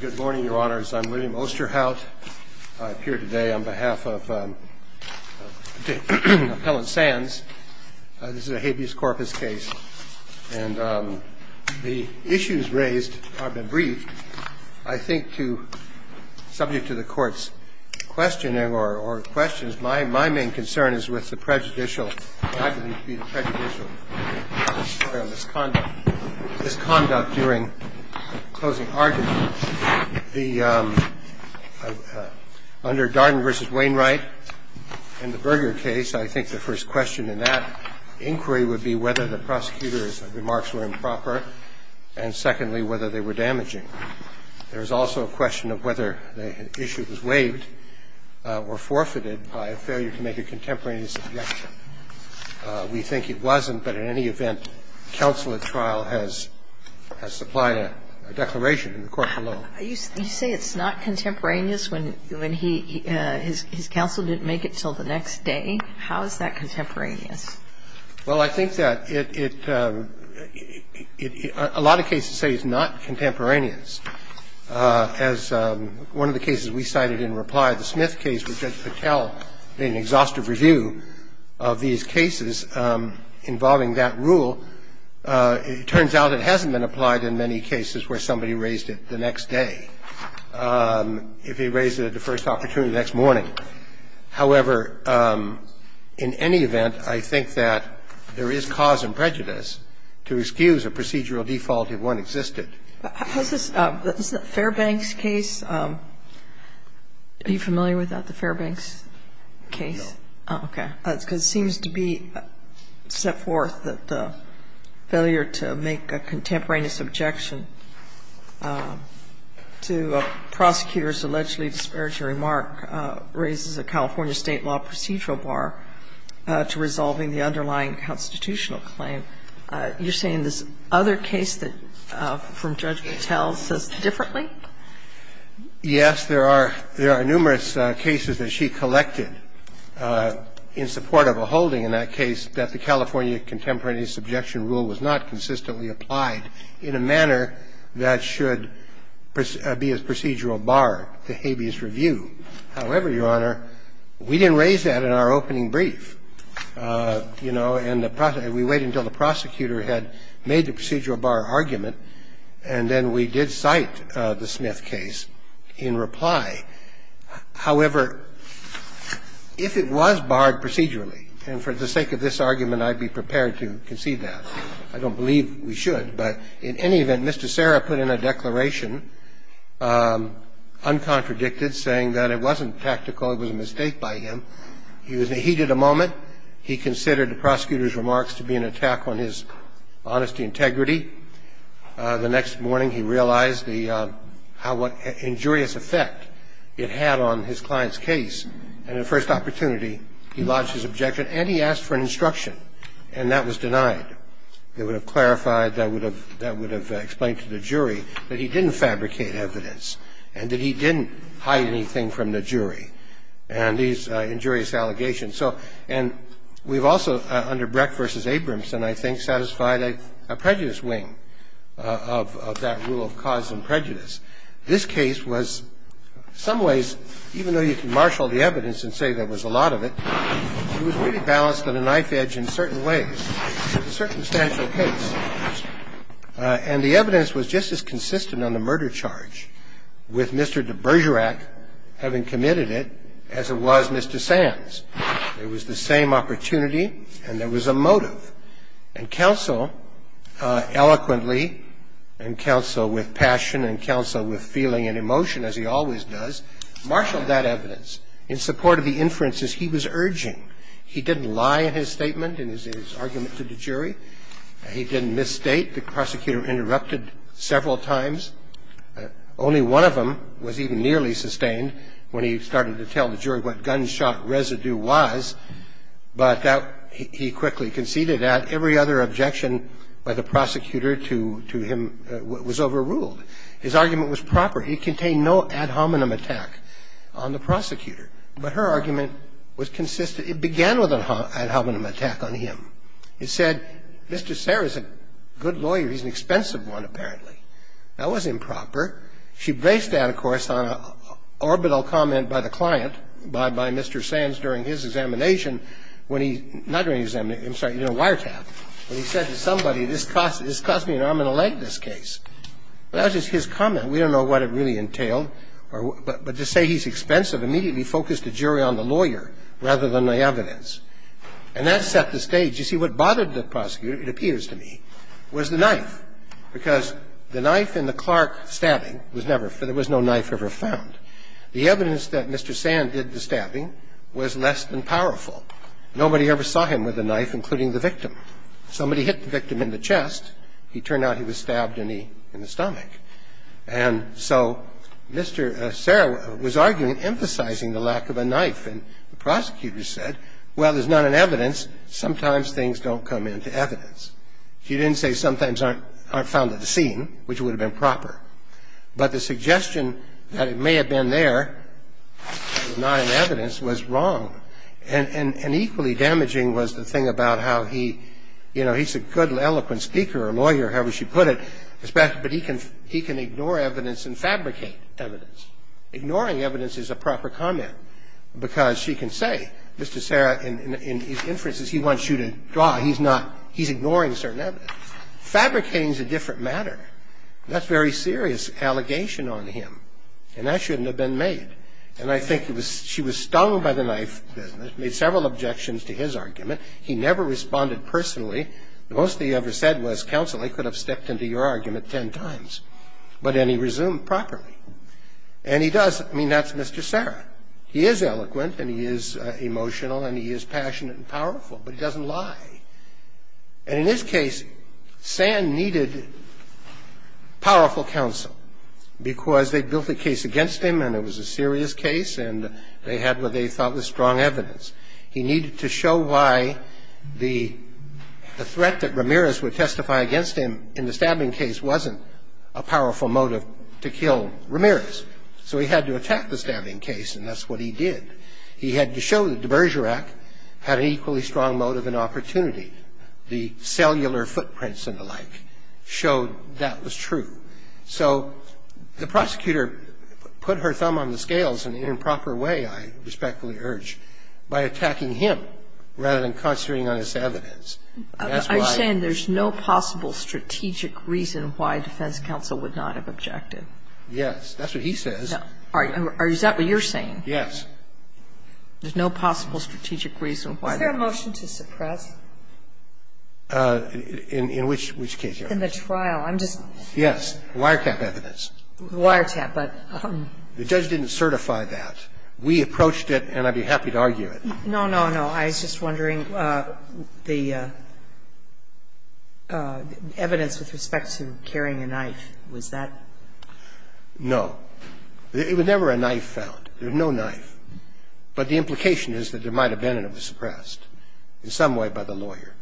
Good morning, your honors. I'm William Osterhout. I appear today on behalf of Appellant Sands. This is a habeas corpus case, and the issues raised have been briefed. I think, subject to the Court's questioning or questions, my main concern is with the prejudicial or misconduct during closing arguments. Under Darden v. Wainwright, in the Berger case, I think the first question in that inquiry would be whether the prosecutor's remarks were improper, and secondly, whether they were damaging. There is also a question of whether the issue was waived or forfeited by a failure to make a contemporaneous objection. We think it wasn't, but in any event, counsel at trial has supplied a declaration in the court below. You say it's not contemporaneous when he – his counsel didn't make it until the next day. How is that contemporaneous? Well, I think that it – a lot of cases say it's not contemporaneous. As one of the cases we cited in reply, the Smith case, where Judge Patel made an exhaustive review of these cases involving that rule, it turns out it hasn't been applied in many cases where somebody raised it the next day, if he raised it at the first opportunity the next morning. However, in any event, I think that there is cause and prejudice to excuse a procedural default if one existed. How's this – isn't that Fairbank's case? Are you familiar with that, the Fairbank's case? No. Oh, okay. Because it seems to be set forth that the failure to make a contemporaneous objection to a prosecutor's allegedly disparate remark raises a California State law procedural bar to resolving the underlying constitutional claim. You're saying this other case that – from Judge Patel says differently? Yes. There are numerous cases that she collected in support of a holding in that case that the California contemporaneous objection rule was not consistently applied in a manner that should be a procedural bar to habeas review. that should be a procedural bar to haveeas review, however, Your Honor, we didn't raise that in our opening brief. You know, and the – we waited until the prosecutor had made the procedural bar argument and then we did cite the Smith case in reply. However, if it was barred procedurally, and for the sake of this argument, I'd be prepared to concede that. But it wasn't tactical. It was a mistake by him. He was in the heat of the moment. He considered the prosecutor's remarks to be an attack on his honesty and integrity. The next morning, he realized the – how injurious effect it had on his client's case. And the first opportunity, he lodged his objection and he asked for an instruction, and that was denied. It would have clarified, that would have explained to the jury that he didn't fabricate evidence and that he didn't hide anything from the jury and these injurious allegations. So – and we've also, under Brecht v. Abramson, I think, satisfied a prejudice wing of that rule of cause and prejudice. This case was, in some ways, even though you can marshal the evidence and say there was a lot of it, it was really balanced on a knife edge in certain ways. It was a circumstantial case. And the evidence was just as consistent on the murder charge with Mr. de Bergerac having committed it as it was Mr. Sands. It was the same opportunity and there was a motive. And counsel eloquently and counsel with passion and counsel with feeling and emotion as he always does, marshaled that evidence in support of the inferences he was urging. He didn't lie in his statement, in his argument to the jury. He didn't misstate the prosecutor interrupted several times. Only one of them was even nearly sustained when he started to tell the jury what gunshot residue was, but that he quickly conceded at. Every other objection by the prosecutor to him was overruled. His argument was proper. It contained no ad hominem attack on the prosecutor. But her argument was consistent. It began with an ad hominem attack on him. It said, Mr. Serra is a good lawyer. He's an expensive one, apparently. That was improper. She based that, of course, on an orbital comment by the client, by Mr. Sands during his examination, when he, not during his examination, I'm sorry, in a wiretap, when he said to somebody, this cost me an arm and a leg, this case. That was just his comment. We don't know what it really entailed. But to say he's expensive immediately focused the jury on the lawyer rather than the evidence. And that set the stage. You see, what bothered the prosecutor, it appears to me, was the knife, because the knife in the Clark stabbing was never found. There was no knife ever found. The evidence that Mr. Sands did the stabbing was less than powerful. Nobody ever saw him with a knife, including the victim. Somebody hit the victim in the chest. It turned out he was stabbed in the stomach. And so Mr. Serra was arguing, emphasizing the lack of a knife. And the prosecutor said, well, there's not enough evidence. Sometimes things don't come into evidence. He didn't say sometimes aren't found at the scene, which would have been proper. But the suggestion that it may have been there, not in evidence, was wrong. And equally damaging was the thing about how he, you know, he's a good eloquent speaker or lawyer, however she put it, but he can ignore evidence and fabricate evidence. Ignoring evidence is a proper comment. And I think that's a very serious allegation on him, because she can say, Mr. Serra, in his inferences, he wants you to draw. He's not he's ignoring certain evidence. Fabricating is a different matter. That's a very serious allegation on him. And that shouldn't have been made. And I think she was stung by the knife, made several objections to his argument. He never responded personally. The most he ever said was, counsel, I could have stepped into your argument ten times. But then he resumed properly. And he does. I mean, that's Mr. Serra. He is eloquent and he is emotional and he is passionate and powerful, but he doesn't lie. And in this case, Sand needed powerful counsel, because they built a case against him and it was a serious case and they had what they thought was strong evidence. He needed to show why the threat that Ramirez would testify against him in the stabbing case wasn't a powerful motive to kill Ramirez. So he had to attack the stabbing case, and that's what he did. He had to show that the Berger Act had an equally strong motive and opportunity. The cellular footprints and the like showed that was true. So the prosecutor put her thumb on the scales in an improper way, I respectfully urge, by attacking him rather than concentrating on his evidence. I'm saying there's no possible strategic reason why defense counsel would not have objected. Yes. That's what he says. Is that what you're saying? Yes. There's no possible strategic reason why. Is there a motion to suppress? In which case? In the trial. Yes. Wiretap evidence. Wiretap. The judge didn't certify that. We approached it and I'd be happy to argue it. No, no, no. I was just wondering the evidence with respect to carrying a knife. Was that? No. There was never a knife found. There's no knife. But the implication is that there might have been and it was suppressed in some way by the lawyer.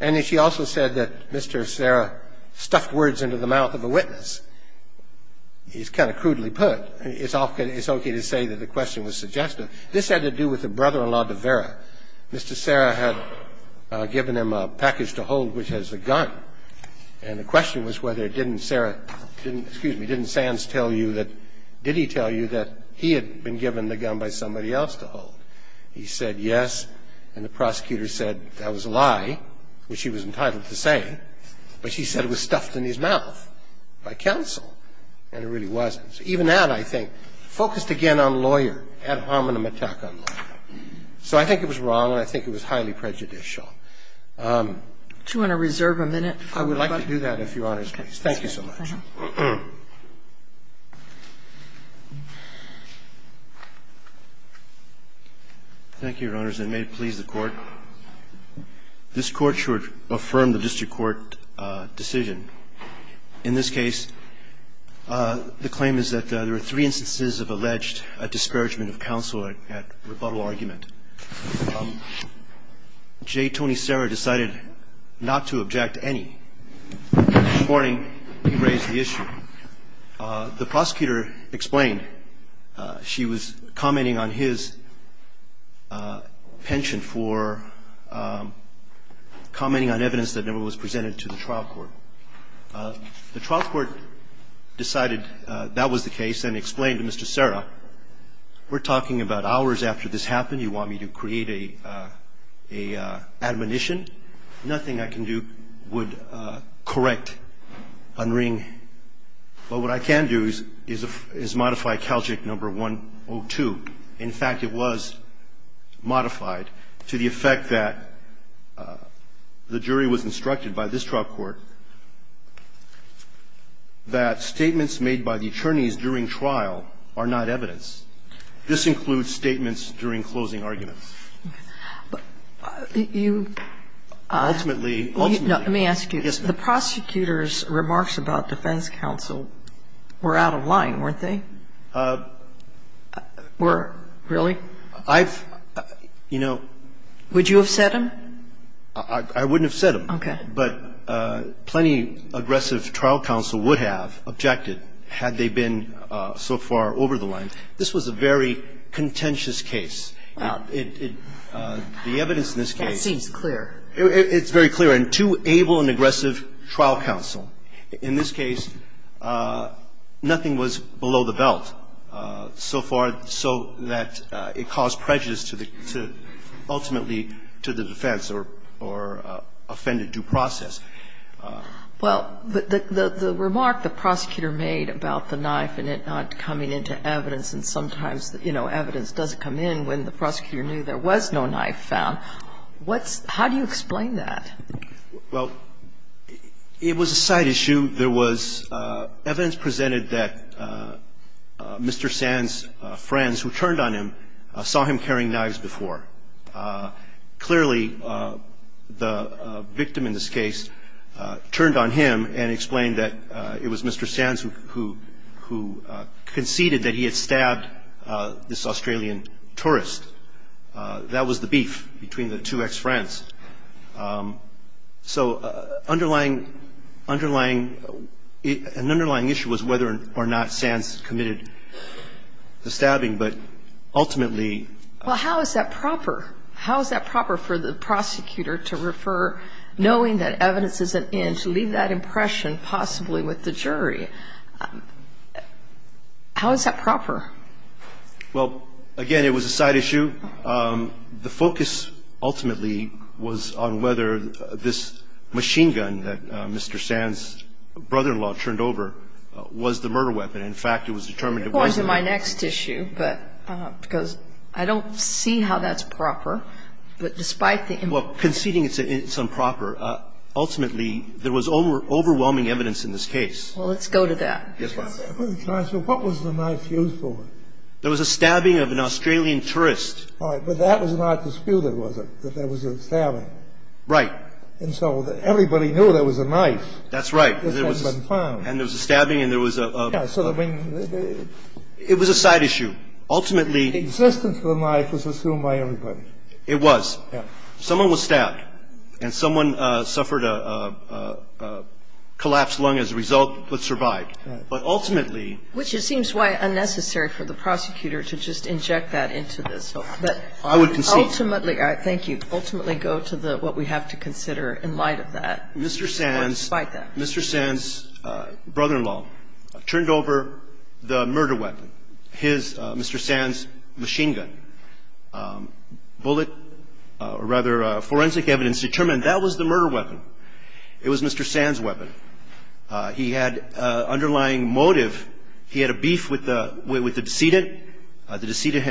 And she also said that Mr. Serra stuffed words into the mouth of a witness. It's kind of crudely put. It's okay to say that the question was suggestive. This had to do with the brother-in-law de Vera. Mr. Serra had given him a package to hold which has a gun. And the question was whether didn't Serra, didn't, excuse me, didn't Sands tell you that, did he tell you that he had been given the gun by somebody else to hold? He said yes. And the prosecutor said that was a lie, which he was entitled to say. But she said it was stuffed in his mouth by counsel. And it really wasn't. So I think it was wrong. And I think it was highly prejudicial. Even that, I think, focused again on lawyer, ad hominem attack on lawyer. So I think it was wrong and I think it was highly prejudicial. Do you want to reserve a minute? I would like to do that, if Your Honor's please. Thank you so much. Thank you, Your Honors. And may it please the Court, this Court should affirm the district court decision. In this case, the claim is that there are three instances of alleged discouragement of counsel at rebuttal argument. J. Tony Serra decided not to object to any. This morning, he raised the issue. The prosecutor explained she was commenting on his penchant for commenting on evidence that never was presented to the trial court. The trial court decided that was the case and explained to Mr. Serra, we're talking about hours after this happened. You want me to create an admonition? Nothing I can do would correct Unring. But what I can do is modify Calgic number 102. In fact, it was modified to the effect that the jury was instructed by this trial court that statements made by the attorneys during trial are not evidence. This includes statements during closing arguments. Ultimately, ultimately. Let me ask you. Yes, ma'am. The prosecutor's remarks about defense counsel were out of line, weren't they? Were, really? I've, you know. Would you have said them? I wouldn't have said them. Okay. But plenty aggressive trial counsel would have objected had they been so far over the line. This was a very contentious case. The evidence in this case. That seems clear. It's very clear. And two able and aggressive trial counsel. In this case, nothing was below the belt so far so that it caused prejudice to the, ultimately to the defense or offended due process. Well, the remark the prosecutor made about the knife and it not coming into evidence and sometimes, you know, evidence doesn't come in when the prosecutor knew there was no knife found, what's, how do you explain that? Well, it was a side issue. There was evidence presented that Mr. Sands' friends who turned on him saw him carrying knives before. Clearly, the victim in this case turned on him and explained that it was Mr. Sands who conceded that he had stabbed this Australian tourist. That was the beef between the two ex-friends. So underlying, underlying, an underlying issue was whether or not Sands committed the stabbing, but ultimately. Well, how is that proper? How is that proper for the prosecutor to refer, knowing that evidence isn't in, to leave that impression possibly with the jury? How is that proper? Well, again, it was a side issue. And the focus ultimately was on whether this machine gun that Mr. Sands' brother-in-law turned over was the murder weapon. In fact, it was determined at one point. Go on to my next issue, but, because I don't see how that's proper. But despite the. Well, conceding it's improper, ultimately there was overwhelming evidence in this case. Well, let's go to that. Yes, Your Honor. What was the knife used for? There was a stabbing of an Australian tourist. All right. But that was not disputed, was it, that there was a stabbing? Right. And so everybody knew there was a knife. That's right. Because it had been found. And there was a stabbing and there was a... Yeah. So, I mean... It was a side issue. Ultimately... The existence of the knife was assumed by everybody. It was. Yeah. Someone was stabbed and someone suffered a collapsed lung as a result but survived. But ultimately... And I think it would be unnecessary for the prosecutor to just inject that into this. But... I would concede. Ultimately... Thank you. Ultimately go to what we have to consider in light of that. Mr. Sands. Or despite that. Mr. Sands' brother-in-law turned over the murder weapon, his Mr. Sands machine gun. Bullet. Or rather, forensic evidence determined that was the murder weapon. It was Mr. Sands' weapon. He had an underlying motive. He had a beef with the decedent. The decedent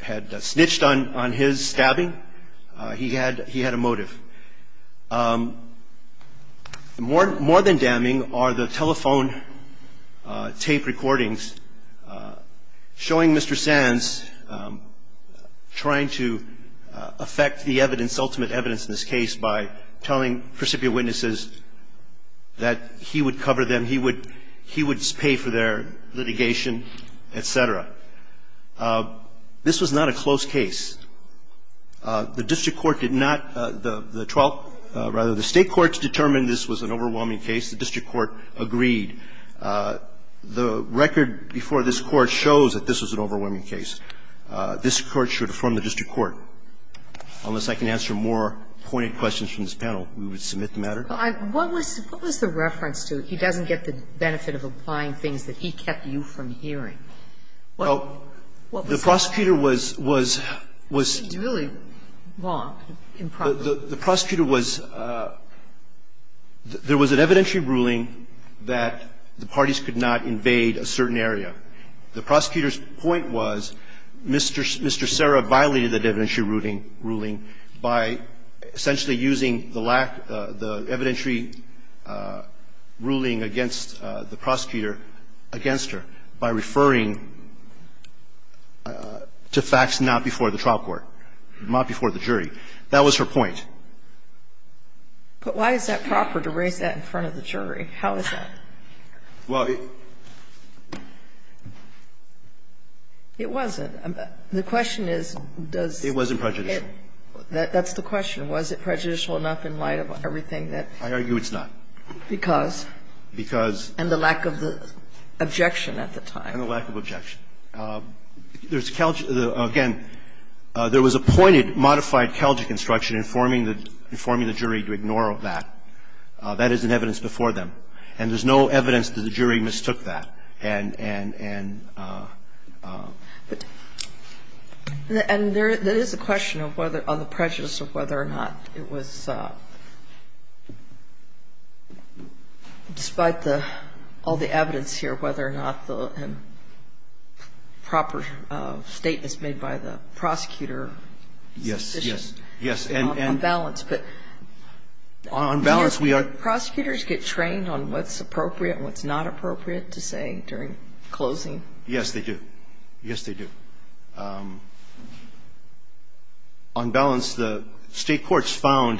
had snitched on his stabbing. He had a motive. More than damning are the telephone tape recordings showing Mr. Sands trying to affect the evidence, his ultimate evidence in this case, by telling precipient witnesses that he would cover them, he would pay for their litigation, et cetera. This was not a close case. The district court did not... The 12th... Rather, the state courts determined this was an overwhelming case. The district court agreed. The record before this court shows that this was an overwhelming case. This Court should affirm the district court. Unless I can answer more pointed questions from this panel, we would submit the matter. What was the reference to he doesn't get the benefit of applying things that he kept you from hearing? Well, the prosecutor was, was, was... Really wrong, improperly. The prosecutor was... There was an evidentiary ruling that the parties could not invade a certain area. The prosecutor's point was Mr. Sera violated the evidentiary ruling by essentially using the evidentiary ruling against the prosecutor against her by referring to facts not before the trial court, not before the jury. That was her point. But why is that proper to raise that in front of the jury? How is that? Well, it... It wasn't. The question is, does... It wasn't prejudicial. That's the question. Was it prejudicial enough in light of everything that... I argue it's not. Because. Because. And the lack of the objection at the time. And the lack of objection. There's, again, there was a pointed modified Kelgi construction informing the, informing the jury to ignore that. That is in evidence before them. And there's no evidence that the jury mistook that. And... And... But... And there is a question of whether, on the prejudice of whether or not it was, despite the, all the evidence here, whether or not the proper statement is made by the prosecutor. Yes. Yes. Yes. And... On balance, but... On balance, we are... Prosecutors get trained on what's appropriate and what's not appropriate to say during closing. Yes, they do. Yes, they do. On balance, the State courts found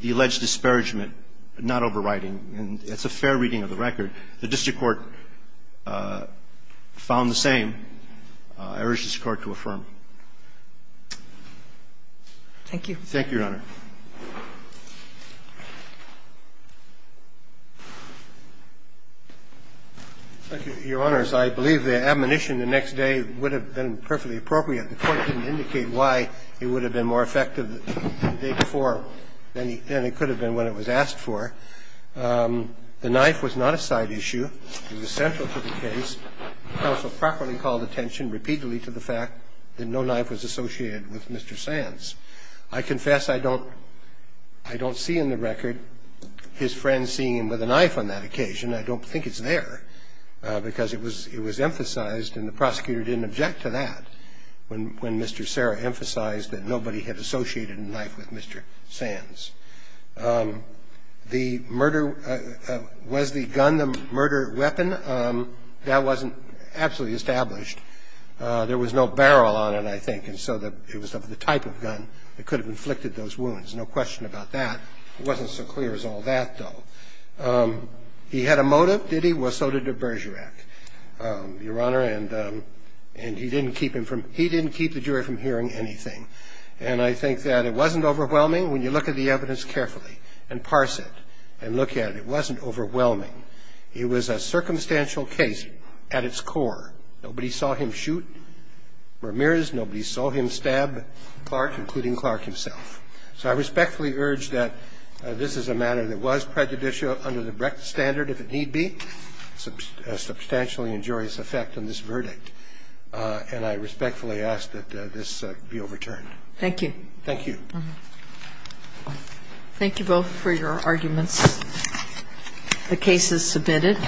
the alleged disparagement not overriding. And it's a fair reading of the record. The district court found the same. Thank you. Thank you, Your Honor. Thank you, Your Honors. I believe the admonition the next day would have been perfectly appropriate. The Court didn't indicate why it would have been more effective the day before than it could have been when it was asked for. The knife was not a side issue. It was central to the case. Counsel properly called attention repeatedly to the fact that no knife was associated with Mr. Sands. I confess I don't... I don't see in the record his friend seeing him with a knife on that occasion. I don't think it's there because it was... it was emphasized and the prosecutor didn't object to that when... when Mr. Serra emphasized that nobody had associated a knife with Mr. Sands. The murder... was the gun the murder weapon? That wasn't absolutely established. There was no barrel on it, I think. And so it was of the type of gun that could have inflicted those wounds. No question about that. It wasn't so clear as all that, though. He had a motive, did he? Well, so did the Bergerac, Your Honor, and he didn't keep him from... he didn't keep the jury from hearing anything. And I think that it wasn't overwhelming. When you look at the evidence carefully and parse it and look at it, it wasn't overwhelming. It was a circumstantial case at its core. Nobody saw him shoot Ramirez. Nobody saw him stab Clark, including Clark himself. So I respectfully urge that this is a matter that was prejudicial under the Brecht standard, if it need be. Substantially injurious effect on this verdict. And I respectfully ask that this be overturned. Thank you. Thank you. Thank you both for your arguments. The case is submitted.